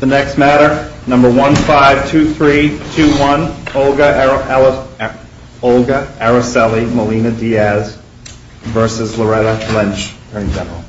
The next matter, number 152321, Olga Aracely Molina-Diaz v. Loretta Lynch, Attorney General.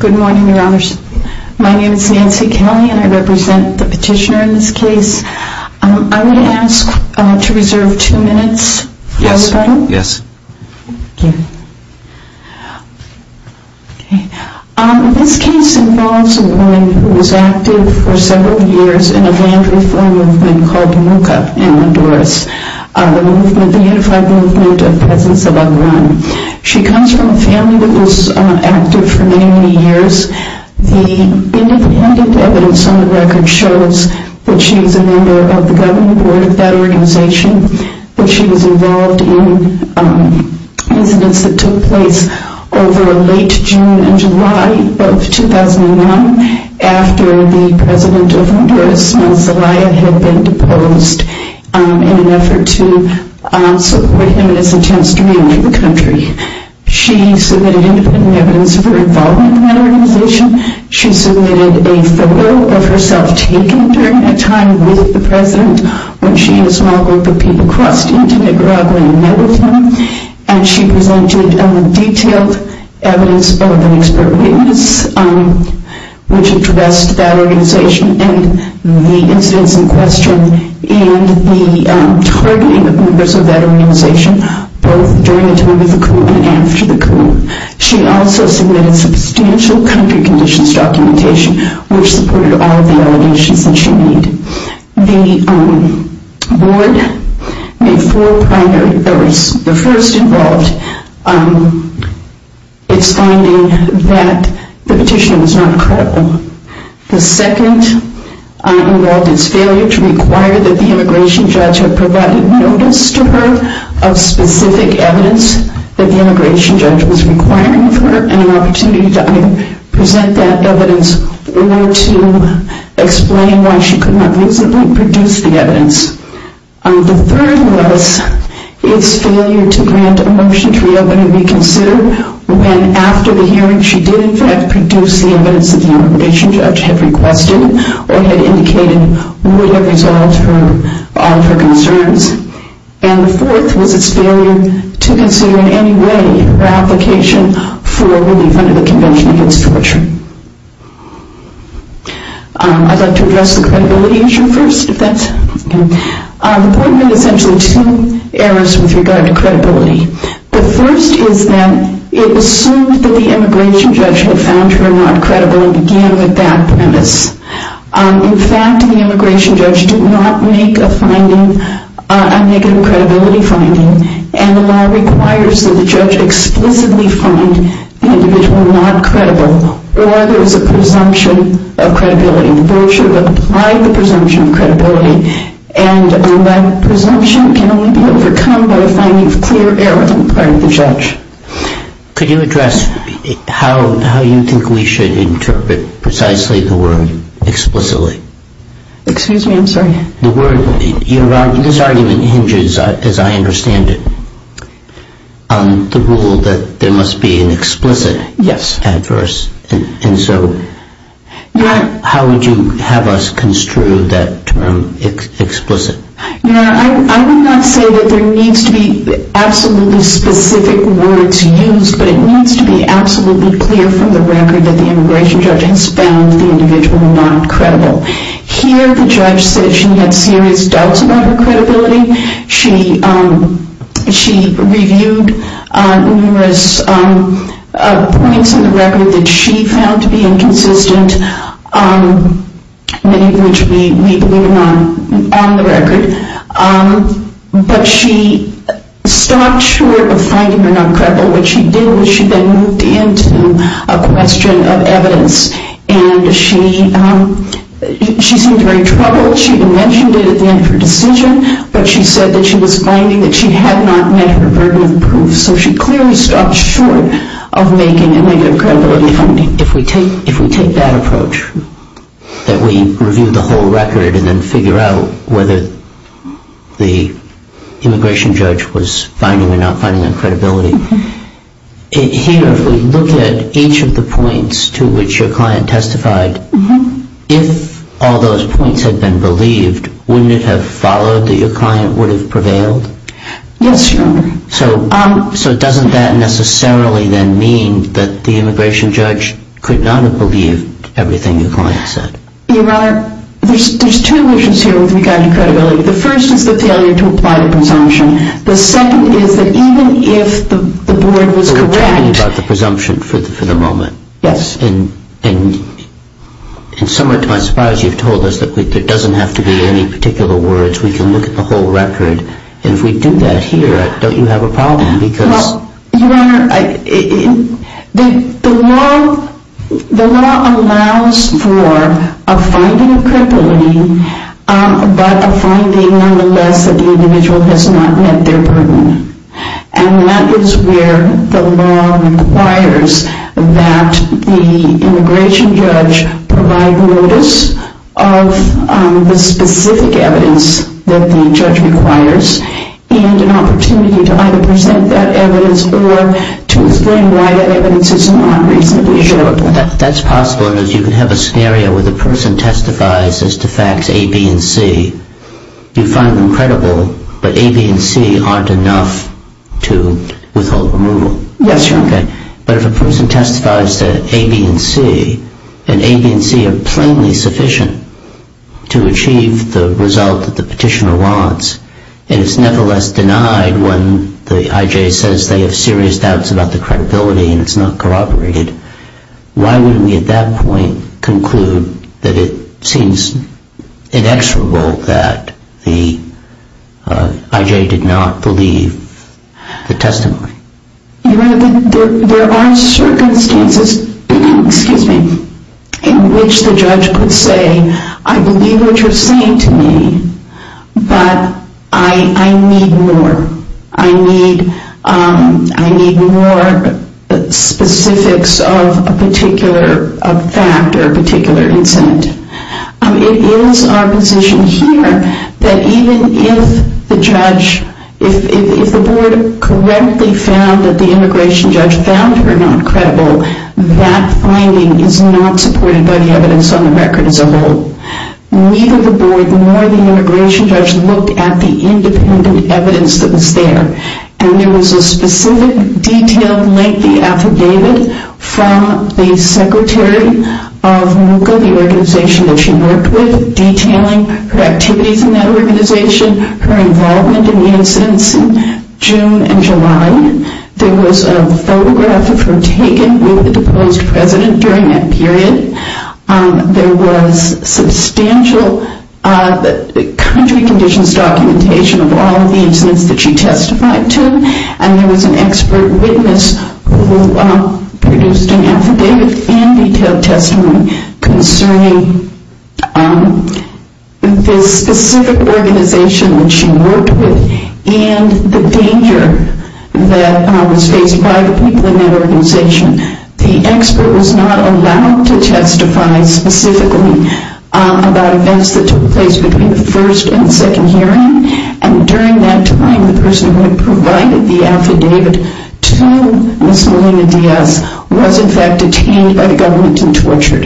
Good morning, Your Honors. My name is Nancy Kelley and I represent the petitioner in this case. I'm going to ask to reserve two minutes for the panel. Yes. This case involves a woman who was active for several years in a family-free movement called MUCA in Honduras, the Unified Movement of Presence of Unwanted Women. She comes from a family that was active for many, many years. The independent evidence on the record shows that she was a member of the governing board of that organization, that she was involved in incidents that took place over late June and July of 2001 after the president of Honduras, Manzalaya, had been deposed in an effort to support him in his attempts to re-enlighten the country. She submitted independent evidence of her involvement in that organization. She submitted a photo of herself taken during that time with the president when she and a small group of people crossed into Nicaragua and met with him, and she presented detailed evidence of an expert witness which addressed that organization and the incidents in question and the targeting of members of that organization both during the time of the coup and after the coup. She also submitted substantial country conditions documentation which supported all of the allegations that she made. The board made four primary errors. The first involved its finding that the petition was not credible. The second involved its failure to require that the immigration judge have provided notice to her of specific evidence that the immigration judge was requiring of her and an opportunity to either present that evidence or to explain why she could not reasonably produce the evidence. The third was its failure to grant a motion to reopen and reconsider when after the hearing she did in fact produce the evidence that the immigration judge had requested or had indicated would have resolved all of her concerns. And the fourth was its failure to consider in any way her application for relief under the Convention Against Torture. I'd like to address the credibility issue first. The board made essentially two errors with regard to credibility. The first is that it assumed that the immigration judge had found her not credible. The second is that the immigration judge did not make a negative credibility finding and the law requires that the judge explicitly find the individual not credible or there is a presumption of credibility. The board should apply the presumption of credibility and that presumption can only be overcome by the finding of clear error on the part of the judge. Could you address how you think we should interpret precisely the word explicitly? This argument hinges, as I understand it, on the rule that there must be an explicit adverse and so how would you have us construe that term explicit? I would not say that there needs to be absolutely specific words used but it needs to be absolutely clear from the record that the immigration judge has found the individual not credible. Here the judge said she had serious doubts about her credibility. She reviewed numerous points in the record that she found to be inconsistent, many of which we believe are not on the record. But she stopped short of finding her not credible. What she did was she then moved into a question of evidence and she seemed to be in trouble. She mentioned it at the end of her decision but she said that she was finding that she had not met her burden of proof. So she clearly stopped short of making a negative credibility finding. If we take that approach, that we review the whole record and then figure out whether the points to which your client testified, if all those points had been believed, wouldn't it have followed that your client would have prevailed? Yes, Your Honor. So doesn't that necessarily then mean that the immigration judge could not have believed everything your client said? Your Honor, there's two issues here with regard to credibility. The first is the failure to presumption for the moment. And somewhere to my surprise you've told us that there doesn't have to be any particular words. We can look at the whole record and if we do that here don't you have a problem? Well, Your Honor, the law allows for a finding of credibility but a finding nonetheless that the individual has not met their burden. And that is where the law requires that the immigration judge provide notice of the specific evidence that the judge requires and an opportunity to either present that evidence or to explain why that evidence is not reasonably showable. That's possible because you can have a scenario where the person testifies as to facts A, B, and C. You find them credible but A, B, and C aren't enough to withhold removal. Yes, Your Honor. Okay. But if a person testifies to A, B, and C and A, B, and C are plainly sufficient to achieve the result that the petitioner wants and it's nevertheless denied when the IJ says they have serious doubts about the credibility and it's not corroborated, why wouldn't we at that point conclude that it seems inexorable that the IJ did not believe the testimony? Your Honor, there are circumstances in which the judge could say, I believe what you're fact or a particular incident. It is our position here that even if the judge, if the board correctly found that the immigration judge found her not credible, that finding is not supported by the evidence on the record as a whole. Neither the board nor the immigration judge looked at the independent evidence that was there. And there was a specific detailed and lengthy affidavit from the secretary of MUCA, the organization that she worked with, detailing her activities in that organization, her involvement in the incidents in June and July. There was a photograph of her taken with the deposed president during that period. There was substantial country conditions documentation of all of the incidents that she testified to and there was an expert witness who produced an affidavit and detailed testimony concerning this specific organization that she worked with and the danger that was faced by the people in that organization. The expert was not allowed to testify specifically about events that took place between the first and second hearing and during that time the person who provided the affidavit to Ms. Melina Diaz was in fact detained by the government and tortured.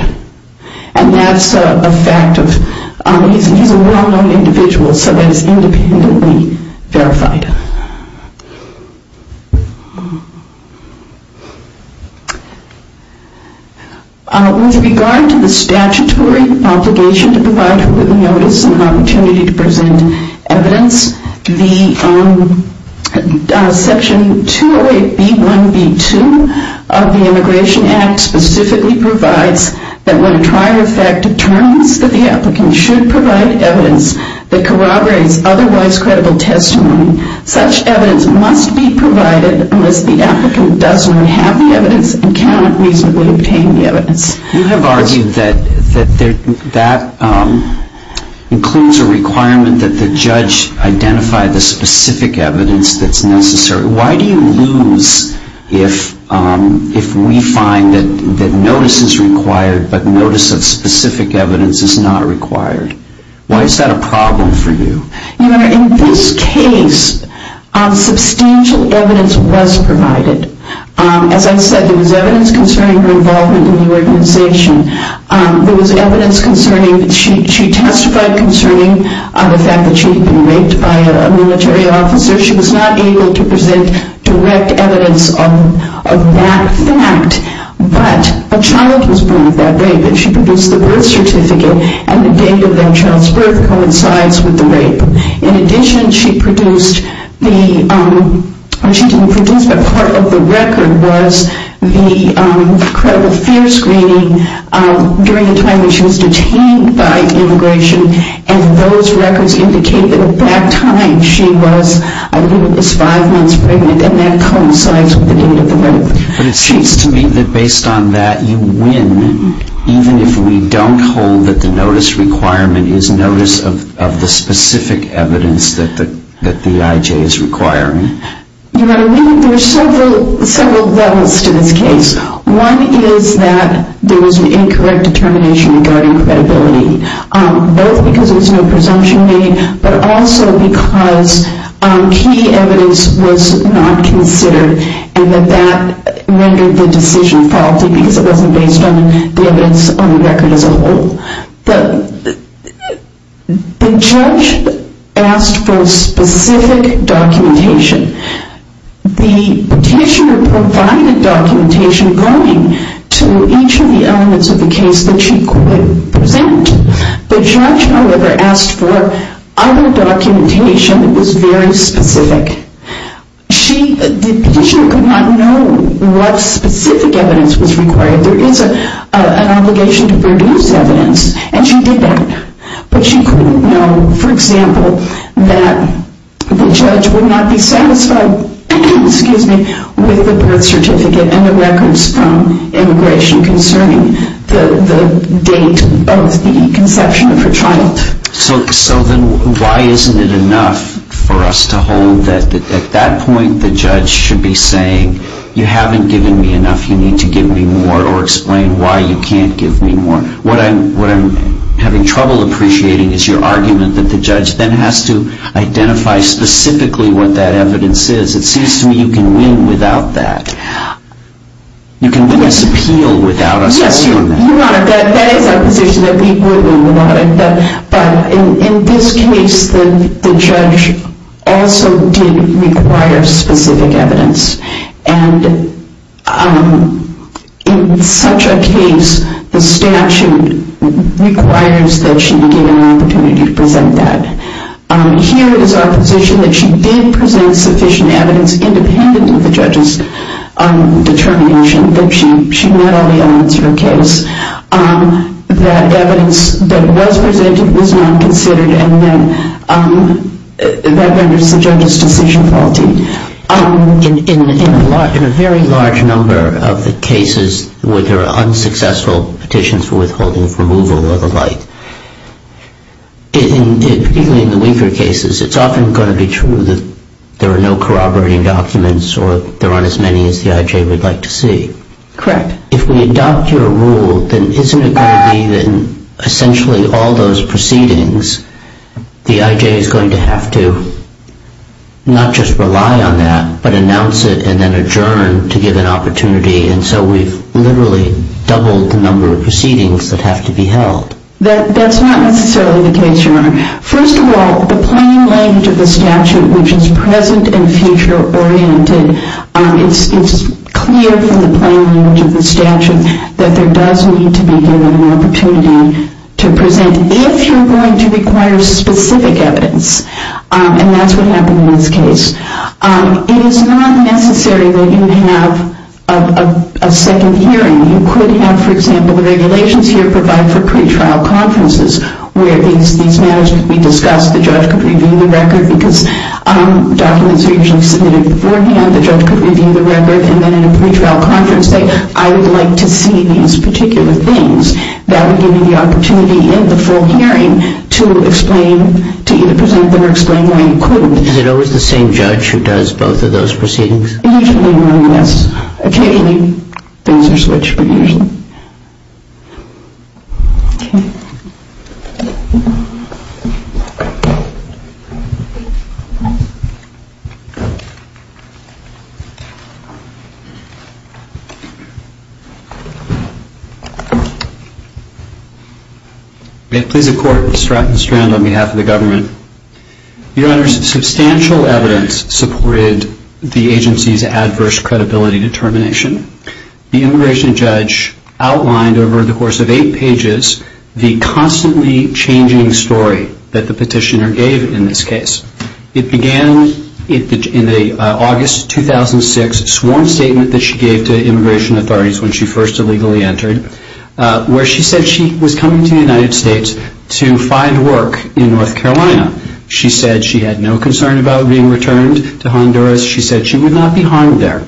And that's a fact of, he's a well-known individual so that is independently verified. With regard to the statutory obligation to provide complete notice and opportunity to present evidence, the section 208B1B2 of the Immigration Act specifically provides that when a trial effect determines that the applicant should provide evidence that corroborates otherwise credible testimony, such evidence must be provided unless the applicant does not have the evidence and cannot reasonably obtain the evidence. You have argued that that includes a requirement that the judge identify the specific evidence that's necessary. Why do you lose if we find that notice is required but notice of specific evidence is not required? Why is that a problem for you? Your Honor, in this case substantial evidence was provided. As I said there was evidence concerning her involvement in the organization. There was evidence concerning, she testified concerning the fact that she had been raped by a military officer. She was not able to present direct and the date of that child's birth coincides with the rape. In addition she produced the, well she didn't produce but part of the record was the credible fear screening during the time that she was detained by immigration and those records indicate that at that time she was, I believe it was five months pregnant and that coincides with the date of the rape. But it seems to me that based on that you win even if we don't hold that the notice requirement is notice of the specific evidence that the IJ is requiring. Your Honor, there are several levels to this case. One is that there was an incorrect determination regarding credibility both because there was no presumption made but also because key evidence was not considered and that that rendered the decision faulty because it wasn't based on the evidence on the record as a whole. The judge asked for specific documentation. The petitioner provided documentation going to each of the elements of the case that she could present. The judge however asked for other documentation that was very specific. The petitioner could not know what specific evidence was required. There is an obligation to produce evidence and she did that but she couldn't know for example that the judge would not be satisfied with the birth certificate and the records from immigration concerning the date of the conception of her child. So then why isn't it enough for us to hold that at that point the judge should be saying you haven't given me enough, you need to give me more or explain why you can't give me more. What I'm having trouble appreciating is your argument that the judge then has to identify specifically what that evidence is. It seems to me you can win without that. You can win this appeal without us knowing that. Yes, you're right. That is our position that we would win without it but in this case the judge also did require specific evidence and in such a case the statute requires that she be given an opportunity to present that. Here is our position that she did present sufficient evidence independent of the judge's determination that she met all the elements of her case. That evidence that was presented was not considered and then that renders the judge's decision faulty. In a very large number of the cases where there are unsuccessful petitions for withholding, removal or the like, particularly in the weaker cases, it's often going to be true that there are no corroborating documents or there aren't as many as the IJ would like to see. Correct. If we adopt your rule then isn't it going to be that essentially all those proceedings the IJ is going to have to not just rely on that but announce it and then adjourn to give an opportunity and so we've literally doubled the number of proceedings that have to be held. That's not necessarily the case, Your Honor. First of all, the plain language of the statute which is present and future oriented, it's clear from the plain language of the statute that there does need to be given an opportunity to present if you're going to require specific evidence and that's what happened in this case. It is not necessary that you have a second hearing. You could have, for example, the regulations here provide for pretrial conferences where these matters could be discussed, the judge could review the record because documents are usually submitted beforehand, the judge could review the record and then in a pretrial conference I would like to see these particular things that would give me the opportunity in the full hearing to either present them or explain why you couldn't. Is it always the same judge who does both of those proceedings? Usually, yes. Occasionally things are switched, but usually. May it please the Court, Mr. Rattenstrand, on behalf of the government. Your Honor, substantial evidence supported the agency's adverse credibility determination. The immigration judge outlined over the course of eight pages the constantly changing story that the petitioner gave in this case. It began in the August 2006 sworn statement that she gave to immigration authorities when she first illegally entered where she said she was coming to the United States to find work in North Carolina. She said she had no concern about being returned to Honduras. She said she would not be harmed there.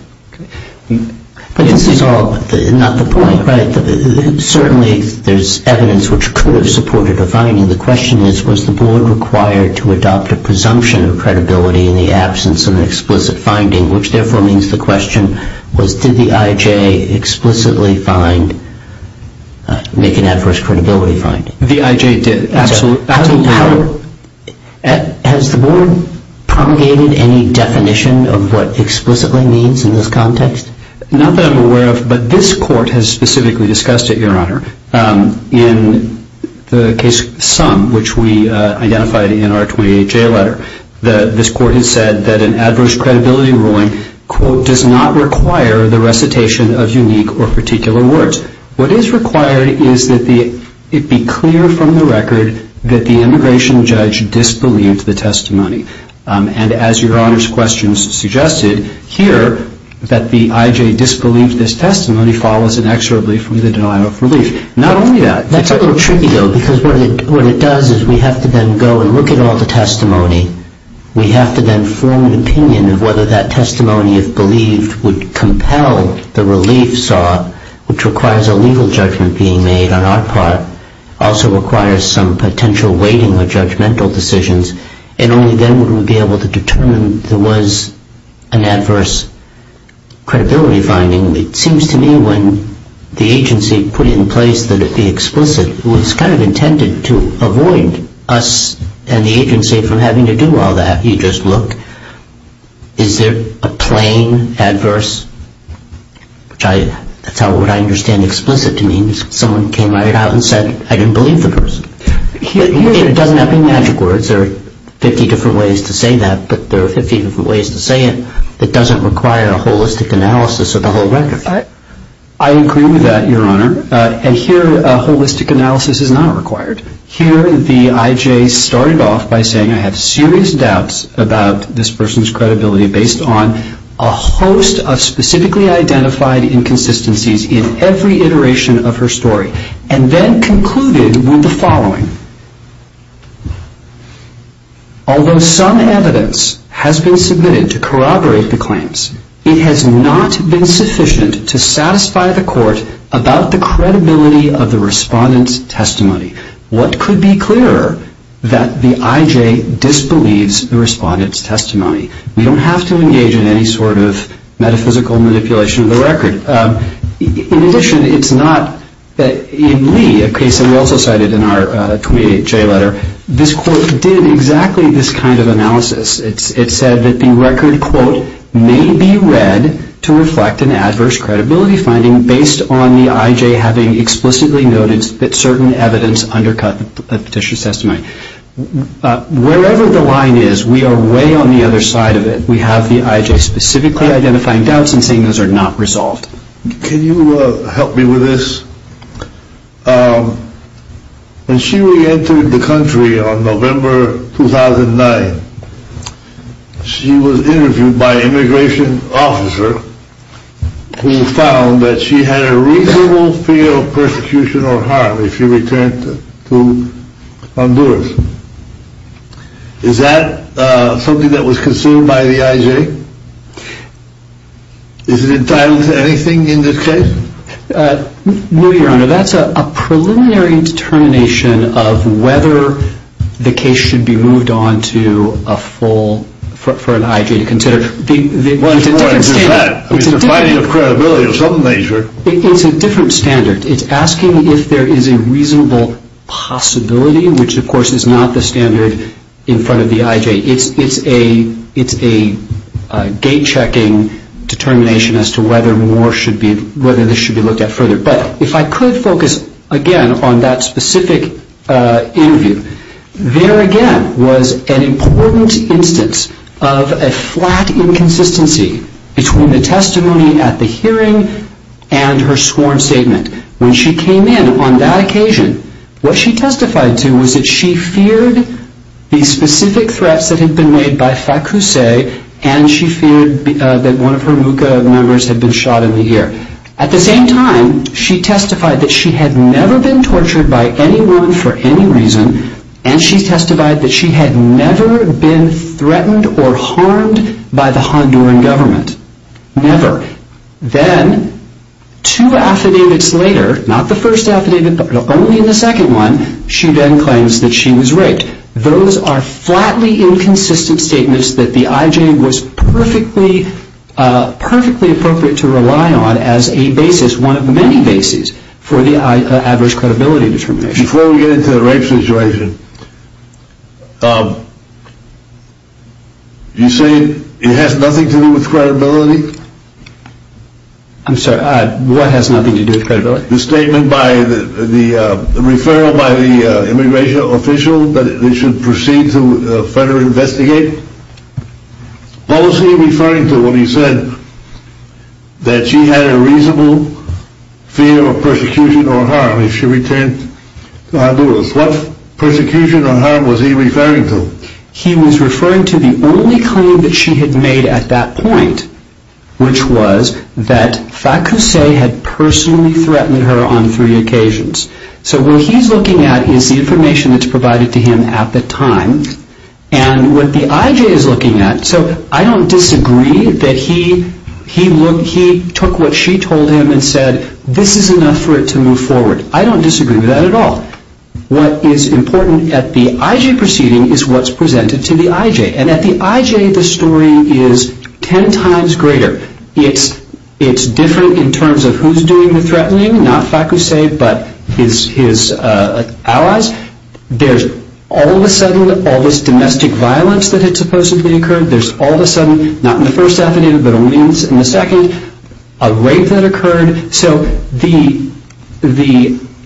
But this is all not the point, right? Certainly there's evidence which could have supported a finding. The question is was the board required to adopt a presumption of credibility in the absence of an explicit finding, which therefore means the question was did the IJ explicitly make an adverse credibility finding? The IJ did, absolutely. Has the board promulgated any definition of what explicitly means in this context? Not that I'm aware of, but this Court has specifically discussed it, Your Honor. In the case Sum, which we identified in our 28J letter, this Court has said that an adverse credibility ruling, quote, does not require the recitation of unique or particular words. What is required is that it be clear from the record that the immigration judge disbelieved the testimony. And as Your Honor's questions suggested, here that the IJ disbelieved this testimony follows an extra belief from the denial of relief. Not only that. That's a little tricky, though, because what it does is we have to then go and look at all the testimony. We have to then form an opinion of whether that testimony, if believed, would compel the relief saw, which requires a legal judgment being made on our part, also requires some potential weighting of judgmental decisions, and only then would we be able to determine there was an adverse credibility finding. It seems to me when the agency put it in place that it be explicit, it was kind of intended to avoid us and the agency from having to do all that. You just look. Is there a plain adverse, which that's what I understand explicit to mean. Someone came at it out and said, I didn't believe the person. It doesn't have to be magic words. There are 50 different ways to say that, but there are 50 different ways to say it that doesn't require a holistic analysis of the whole record. I agree with that, Your Honor. And here a holistic analysis is not required. Here the IJ started off by saying I have serious doubts about this person's credibility based on a host of specifically identified inconsistencies in every iteration of her story and then concluded with the following. Although some evidence has been submitted to corroborate the claims, it has not been sufficient to satisfy the court about the credibility of the respondent's testimony. What could be clearer, that the IJ disbelieves the respondent's testimony. You don't have to engage in any sort of metaphysical manipulation of the record. In addition, it's not that in Lee, a case that we also cited in our 28J letter, this court did exactly this kind of analysis. It said that the record, quote, may be read to reflect an adverse credibility finding based on the IJ having explicitly noted that certain evidence undercut the petition's testimony. Wherever the line is, we are way on the other side of it. We have the IJ specifically identifying doubts and saying those are not resolved. Can you help me with this? When she reentered the country on November 2009, she was interviewed by an immigration officer who found that she had a reasonable fear of persecution or harm if she returned to Honduras. Is that something that was considered by the IJ? Is it entitled to anything in this case? No, Your Honor. That's a preliminary determination of whether the case should be moved on to a full, for an IJ to consider. It's more than just that. It's a finding of credibility of some nature. It's a different standard. It's asking if there is a reasonable possibility, which, of course, is not the standard in front of the IJ. It's a gate-checking determination as to whether this should be looked at further. But if I could focus again on that specific interview, there again was an important instance of a flat inconsistency between the testimony at the hearing and her sworn statement. When she came in on that occasion, what she testified to was that she feared the specific threats that had been made by Facuse and she feared that one of her MUCA members had been shot in the ear. At the same time, she testified that she had never been tortured by anyone for any reason and she testified that she had never been threatened or harmed by the Honduran government. Never. Then, two affidavits later, not the first affidavit but only in the second one, she then claims that she was raped. Those are flatly inconsistent statements that the IJ was perfectly appropriate to rely on as a basis, one of many bases, for the adverse credibility determination. Before we get into the rape situation, you say it has nothing to do with credibility? I'm sorry, what has nothing to do with credibility? The statement by the referral by the immigration official that it should proceed to further investigate. What was he referring to when he said that she had a reasonable fear of persecution or harm if she returned to Honduras? What persecution or harm was he referring to? He was referring to the only claim that she had made at that point, which was that Facuse had personally threatened her on three occasions. So what he's looking at is the information that's provided to him at the time and what the IJ is looking at, so I don't disagree that he took what she told him and said, this is enough for it to move forward. I don't disagree with that at all. What is important at the IJ proceeding is what's presented to the IJ, and at the IJ the story is ten times greater. It's different in terms of who's doing the threatening, not Facuse but his allies. There's all of a sudden all this domestic violence that had supposedly occurred. There's all of a sudden, not in the first affidavit but only in the second, a rape that occurred. So the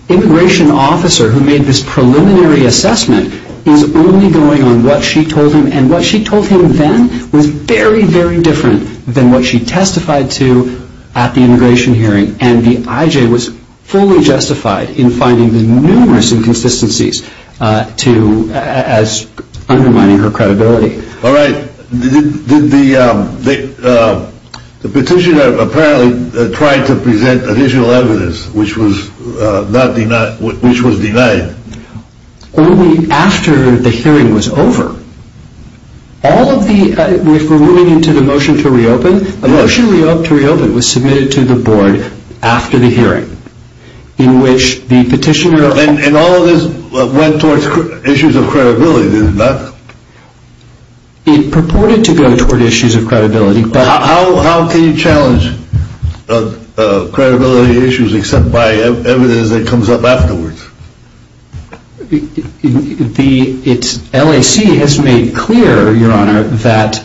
immigration officer who made this preliminary assessment is only going on what she told him, and what she told him then was very, very different than what she testified to at the immigration hearing. And the IJ was fully justified in finding numerous inconsistencies as undermining her credibility. All right. Did the petitioner apparently try to present additional evidence which was denied? Only after the hearing was over. All of the, if we're moving into the motion to reopen, a motion to reopen was submitted to the board after the hearing in which the petitioner- And all of this went towards issues of credibility, did it not? It purported to go toward issues of credibility, but- How can you challenge credibility issues except by evidence that comes up afterwards? The LAC has made clear, Your Honor, that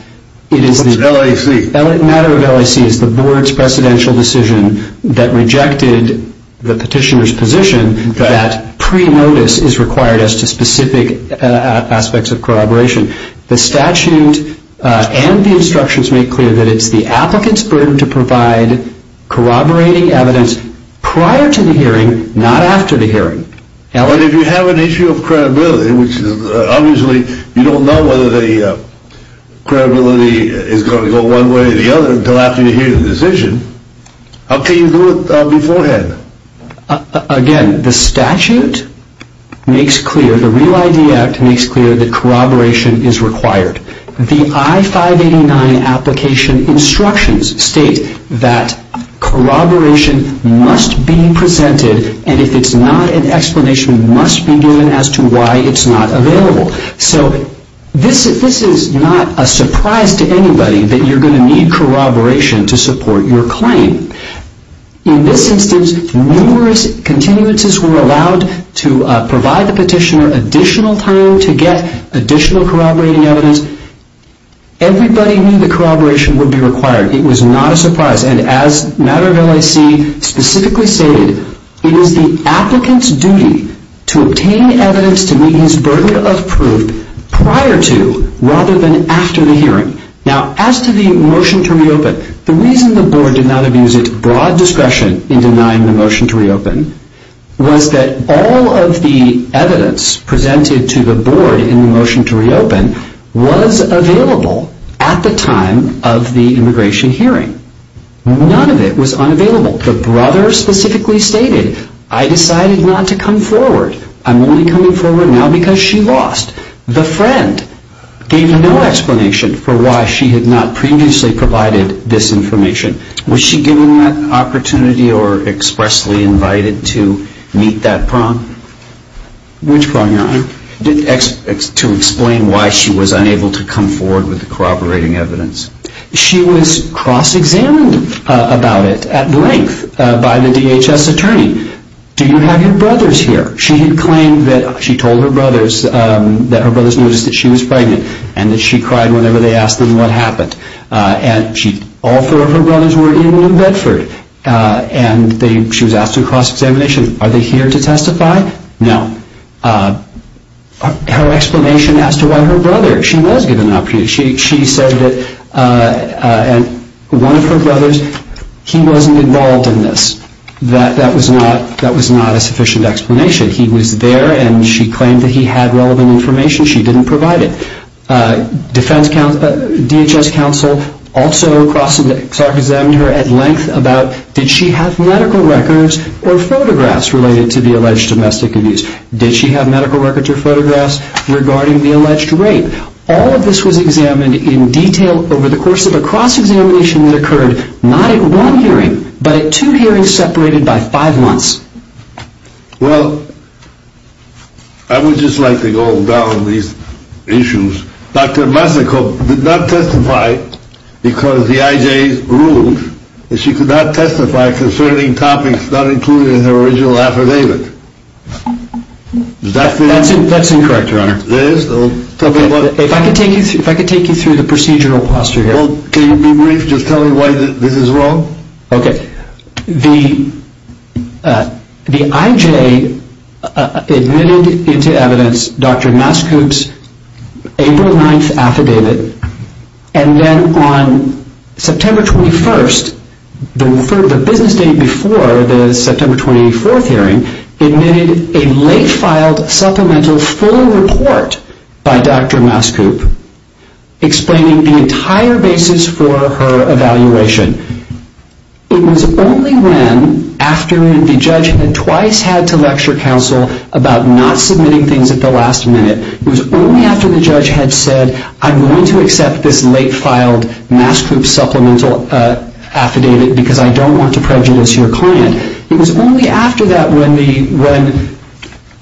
it is the- What's LAC? The matter of LAC is the board's presidential decision that rejected the petitioner's position that pre-notice is required as to specific aspects of corroboration. The statute and the instructions make clear that it's the applicant's burden to provide corroborating evidence prior to the hearing, not after the hearing. But if you have an issue of credibility, which obviously you don't know whether the credibility is going to go one way or the other until after you hear the decision, how can you do it beforehand? Again, the statute makes clear, the Real ID Act makes clear that corroboration is required. The I-589 application instructions state that corroboration must be presented and if it's not, an explanation must be given as to why it's not available. So this is not a surprise to anybody that you're going to need corroboration to support your claim. In this instance, numerous continuances were allowed to provide the petitioner additional time to get additional corroborating evidence. Everybody knew that corroboration would be required. It was not a surprise. And as the matter of LAC specifically stated, it is the applicant's duty to obtain evidence to meet his burden of proof prior to rather than after the hearing. Now, as to the motion to reopen, the reason the board did not abuse its broad discretion in denying the motion to reopen was that all of the evidence presented to the board in the motion to reopen was available at the time of the immigration hearing. None of it was unavailable. The brother specifically stated, I decided not to come forward. I'm only coming forward now because she lost. The friend gave no explanation for why she had not previously provided this information. Was she given that opportunity or expressly invited to meet that prong? Which prong, Your Honor? To explain why she was unable to come forward with the corroborating evidence. She was cross-examined about it at length by the DHS attorney. Do you have your brothers here? She had claimed that she told her brothers that her brothers noticed that she was pregnant and that she cried whenever they asked them what happened. All four of her brothers were in New Bedford. She was asked through cross-examination, are they here to testify? No. Her explanation as to why her brother, she was given an opportunity. She said that one of her brothers, he wasn't involved in this. That was not a sufficient explanation. He was there and she claimed that he had relevant information. She didn't provide it. DHS counsel also cross-examined her at length about, did she have medical records or photographs related to the alleged domestic abuse? Did she have medical records or photographs regarding the alleged rape? All of this was examined in detail over the course of a cross-examination that occurred not at one hearing, but at two hearings separated by five months. Well, I would just like to go down these issues. Dr. Masico did not testify because the IJ ruled that she could not testify concerning topics not included in her original affidavit. Is that correct? That's incorrect, Your Honor. It is? If I could take you through the procedural posture here. Can you be brief, just tell me why this is wrong? Okay. The IJ admitted into evidence Dr. Masico's April 9th affidavit, and then on September 21st, the business date before the September 24th hearing, admitted a late-filed supplemental full report by Dr. Masico explaining the entire basis for her evaluation. It was only then, after the judge had twice had to lecture counsel about not submitting things at the last minute, it was only after the judge had said, I'm going to accept this late-filed Masico supplemental affidavit because I don't want to prejudice your client. It was only after that when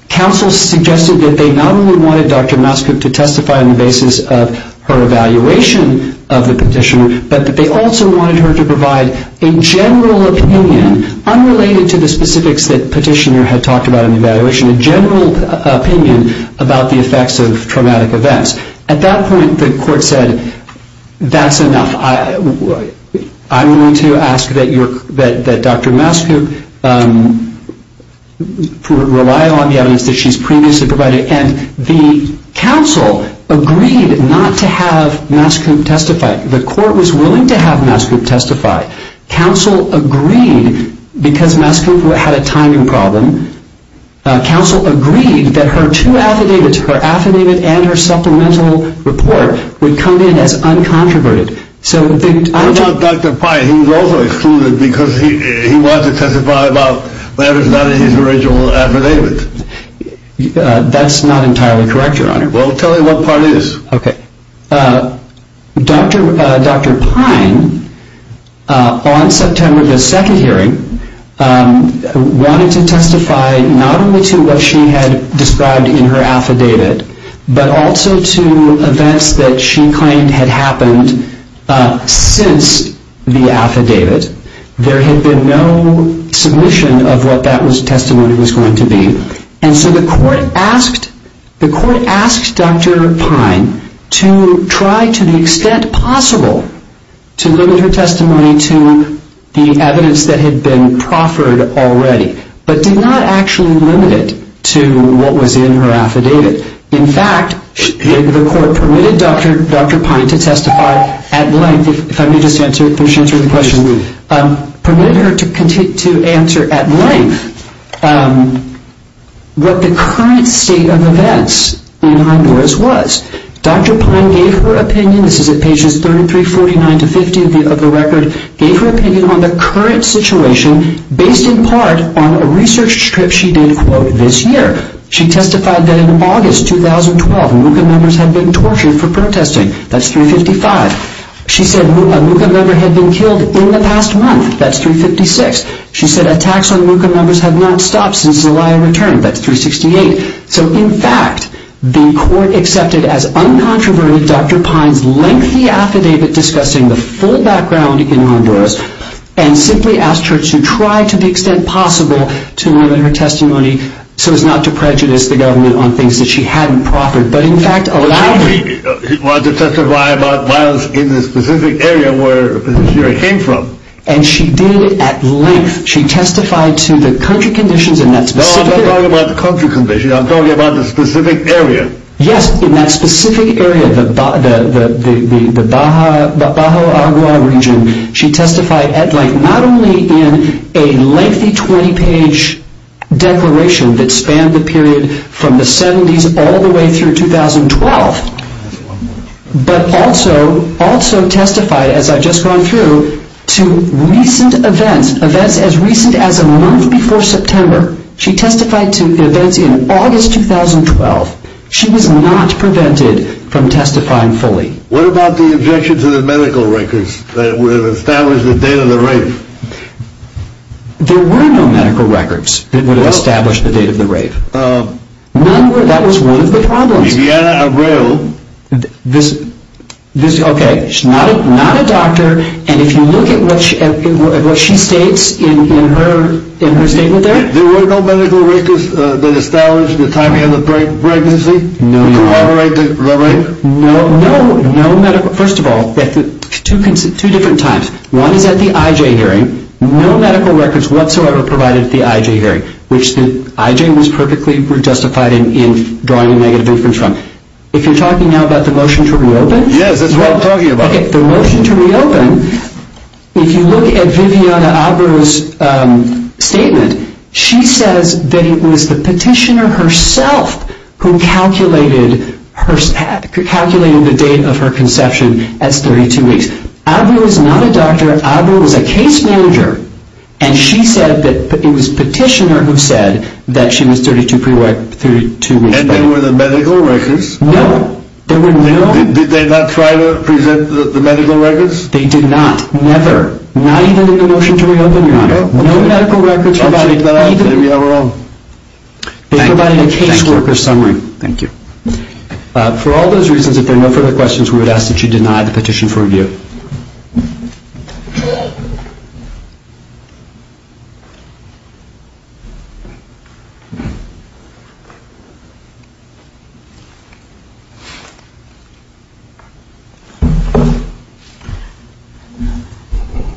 counsel suggested that they not only wanted Dr. Masico to testify on the basis of her evaluation of the petitioner, but that they also wanted her to provide a general opinion, unrelated to the specifics that petitioner had talked about in the evaluation, a general opinion about the effects of traumatic events. At that point, the court said, that's enough. I'm going to ask that Dr. Masico rely on the evidence that she's previously provided, and the counsel agreed not to have Masico testify. The court was willing to have Masico testify. Counsel agreed, because Masico had a timing problem, counsel agreed that her two affidavits, her affidavit and her supplemental report, would come in as uncontroverted. What about Dr. Pye? He was also excluded because he wanted to testify about what was not in his original affidavit. That's not entirely correct, Your Honor. We'll tell you what part it is. Okay. Dr. Pye, on September the 2nd hearing, wanted to testify not only to what she had described in her affidavit, but also to events that she claimed had happened since the affidavit. There had been no submission of what that testimony was going to be, and so the court asked Dr. Pye to try to the extent possible to limit her testimony to the evidence that had been proffered already, but did not actually limit it to what was in her affidavit. In fact, the court permitted Dr. Pye to testify at length. If I may just answer the question, permitted her to answer at length what the current state of events in Honduras was. Dr. Pye gave her opinion, this is at pages 33, 49 to 50 of the record, gave her opinion on the current situation based in part on a research trip she did, quote, this year. She testified that in August 2012, MUCA members had been tortured for protesting. That's 355. She said a MUCA member had been killed in the past month. That's 356. She said attacks on MUCA members had not stopped since Zelaya returned. That's 368. So in fact, the court accepted as uncontroverted Dr. Pye's lengthy affidavit discussing the full background in Honduras, and simply asked her to try to the extent possible to limit her testimony so as not to prejudice the government on things that she hadn't proffered, but in fact allowed her to testify. She didn't testify about violence in the specific area where she came from. And she did at length. She testified to the country conditions in that specific area. No, I'm not talking about the country conditions. I'm talking about the specific area. Yes, in that specific area, the Baja region. She testified at length, not only in a lengthy 20-page declaration that spanned the period from the 70s all the way through 2012, but also testified, as I've just gone through, to recent events, events as recent as a month before September. She testified to events in August 2012. She was not prevented from testifying fully. What about the objections to the medical records that would have established the date of the rave? There were no medical records that would have established the date of the rave. That was one of the problems. Viviana Abreu. Okay, she's not a doctor. And if you look at what she states in her statement there. There were no medical records that established the timing of the pregnancy to moderate the rave? No, no medical records. First of all, two different times. One is at the IJ hearing. No medical records whatsoever provided at the IJ hearing, which the IJ was perfectly justified in drawing a negative inference from. If you're talking now about the motion to reopen. Yes, that's what I'm talking about. Okay, the motion to reopen. If you look at Viviana Abreu's statement, she says that it was the petitioner herself who calculated the date of her conception as 32 weeks. Abreu was not a doctor. Abreu was a case manager. And she said that it was petitioner who said that she was 32 weeks pregnant. And there were no medical records? No, there were no. Did they not try to present the medical records? They did not. Never. Not even in the motion to reopen, Your Honor. No medical records provided. We are wrong. They provided a caseworker summary. Thank you. For all those reasons, if there are no further questions, we would ask that you deny the petition for review.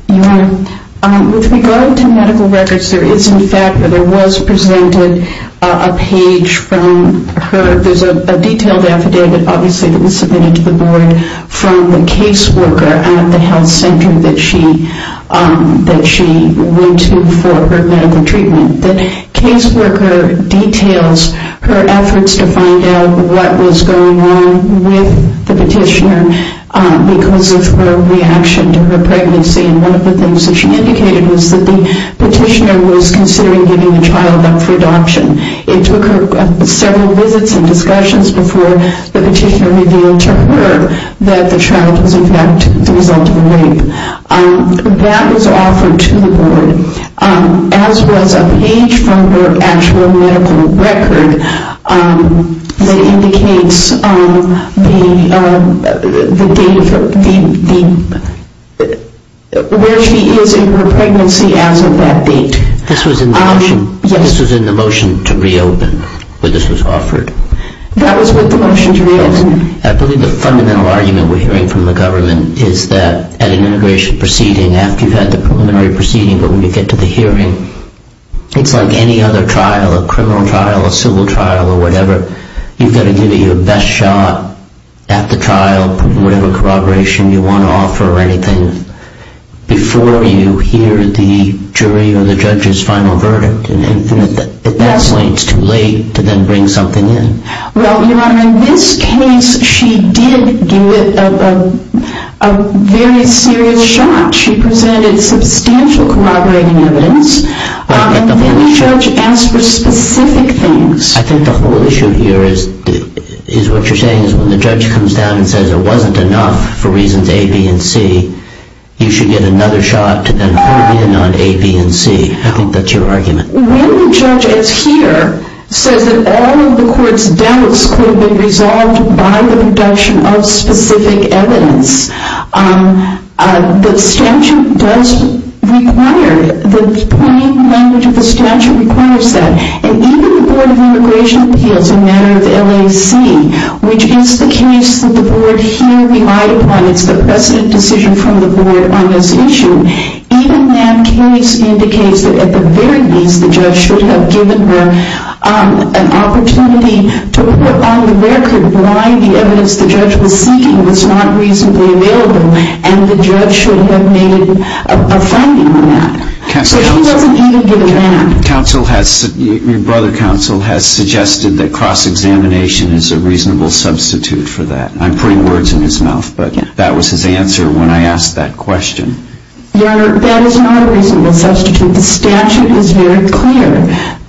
Your Honor, with regard to medical records, there is in fact that there was presented a page from her. There is a detailed affidavit, obviously, that was submitted to the board from the caseworker at the health center that she went to for her medical treatment. The caseworker details her efforts to find out what was going on with the petitioner because of her reaction to her pregnancy. And one of the things that she indicated was that the petitioner was considering giving the child up for adoption. It took her several visits and discussions before the petitioner revealed to her that the child was in fact the result of a rape. That was offered to the board, as was a page from her actual medical record that indicates where she is in her pregnancy as of that date. This was in the motion? That was with the motion to reopen. I believe the fundamental argument we're hearing from the government is that at an immigration proceeding, after you've had the preliminary proceeding, but when you get to the hearing, it's like any other trial, a criminal trial, a civil trial or whatever. You've got to give it your best shot at the trial, whatever corroboration you want to offer or anything, before you hear the jury or the judge's final verdict. And at that point, it's too late to then bring something in. Well, Your Honor, in this case, she did give it a very serious shot. She presented substantial corroborating evidence. And then the judge asked for specific things. I think the whole issue here is what you're saying is when the judge comes down and says it wasn't enough for reasons A, B, and C, you should get another shot to then hold in on A, B, and C. I think that's your argument. When the judge, as here, says that all of the court's doubts could have been resolved by the production of specific evidence, the statute does require, the plain language of the statute requires that. And even the Board of Immigration Appeals, a matter of LAC, which is the case that the Board here relied upon, it's the precedent decision from the Board on this issue, even that case indicates that, at the very least, the judge should have given her an opportunity to put on the record why the evidence the judge was seeking was not reasonably available, and the judge should have made a finding on that. So she doesn't even give a damn. Your brother, counsel, has suggested that cross-examination is a reasonable substitute for that. I'm putting words in his mouth, but that was his answer when I asked that question. Your Honor, that is not a reasonable substitute. The statute is very clear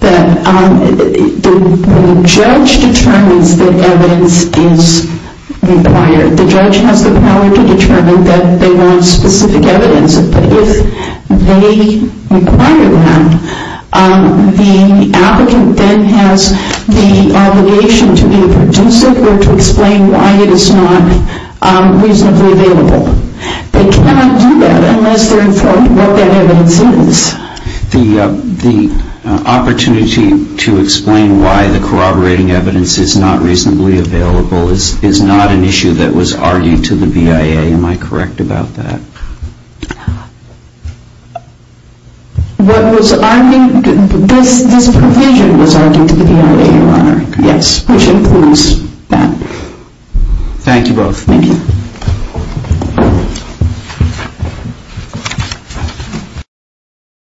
that when the judge determines that evidence is required, the judge has the power to determine that they want specific evidence. But if they require that, the applicant then has the obligation to be producive or to explain why it is not reasonably available. They cannot do that unless they're informed what that evidence is. The opportunity to explain why the corroborating evidence is not reasonably available is not an issue that was argued to the BIA. Am I correct about that? This provision was argued to the BIA, Your Honor. Yes, which includes that. Thank you both. Thank you.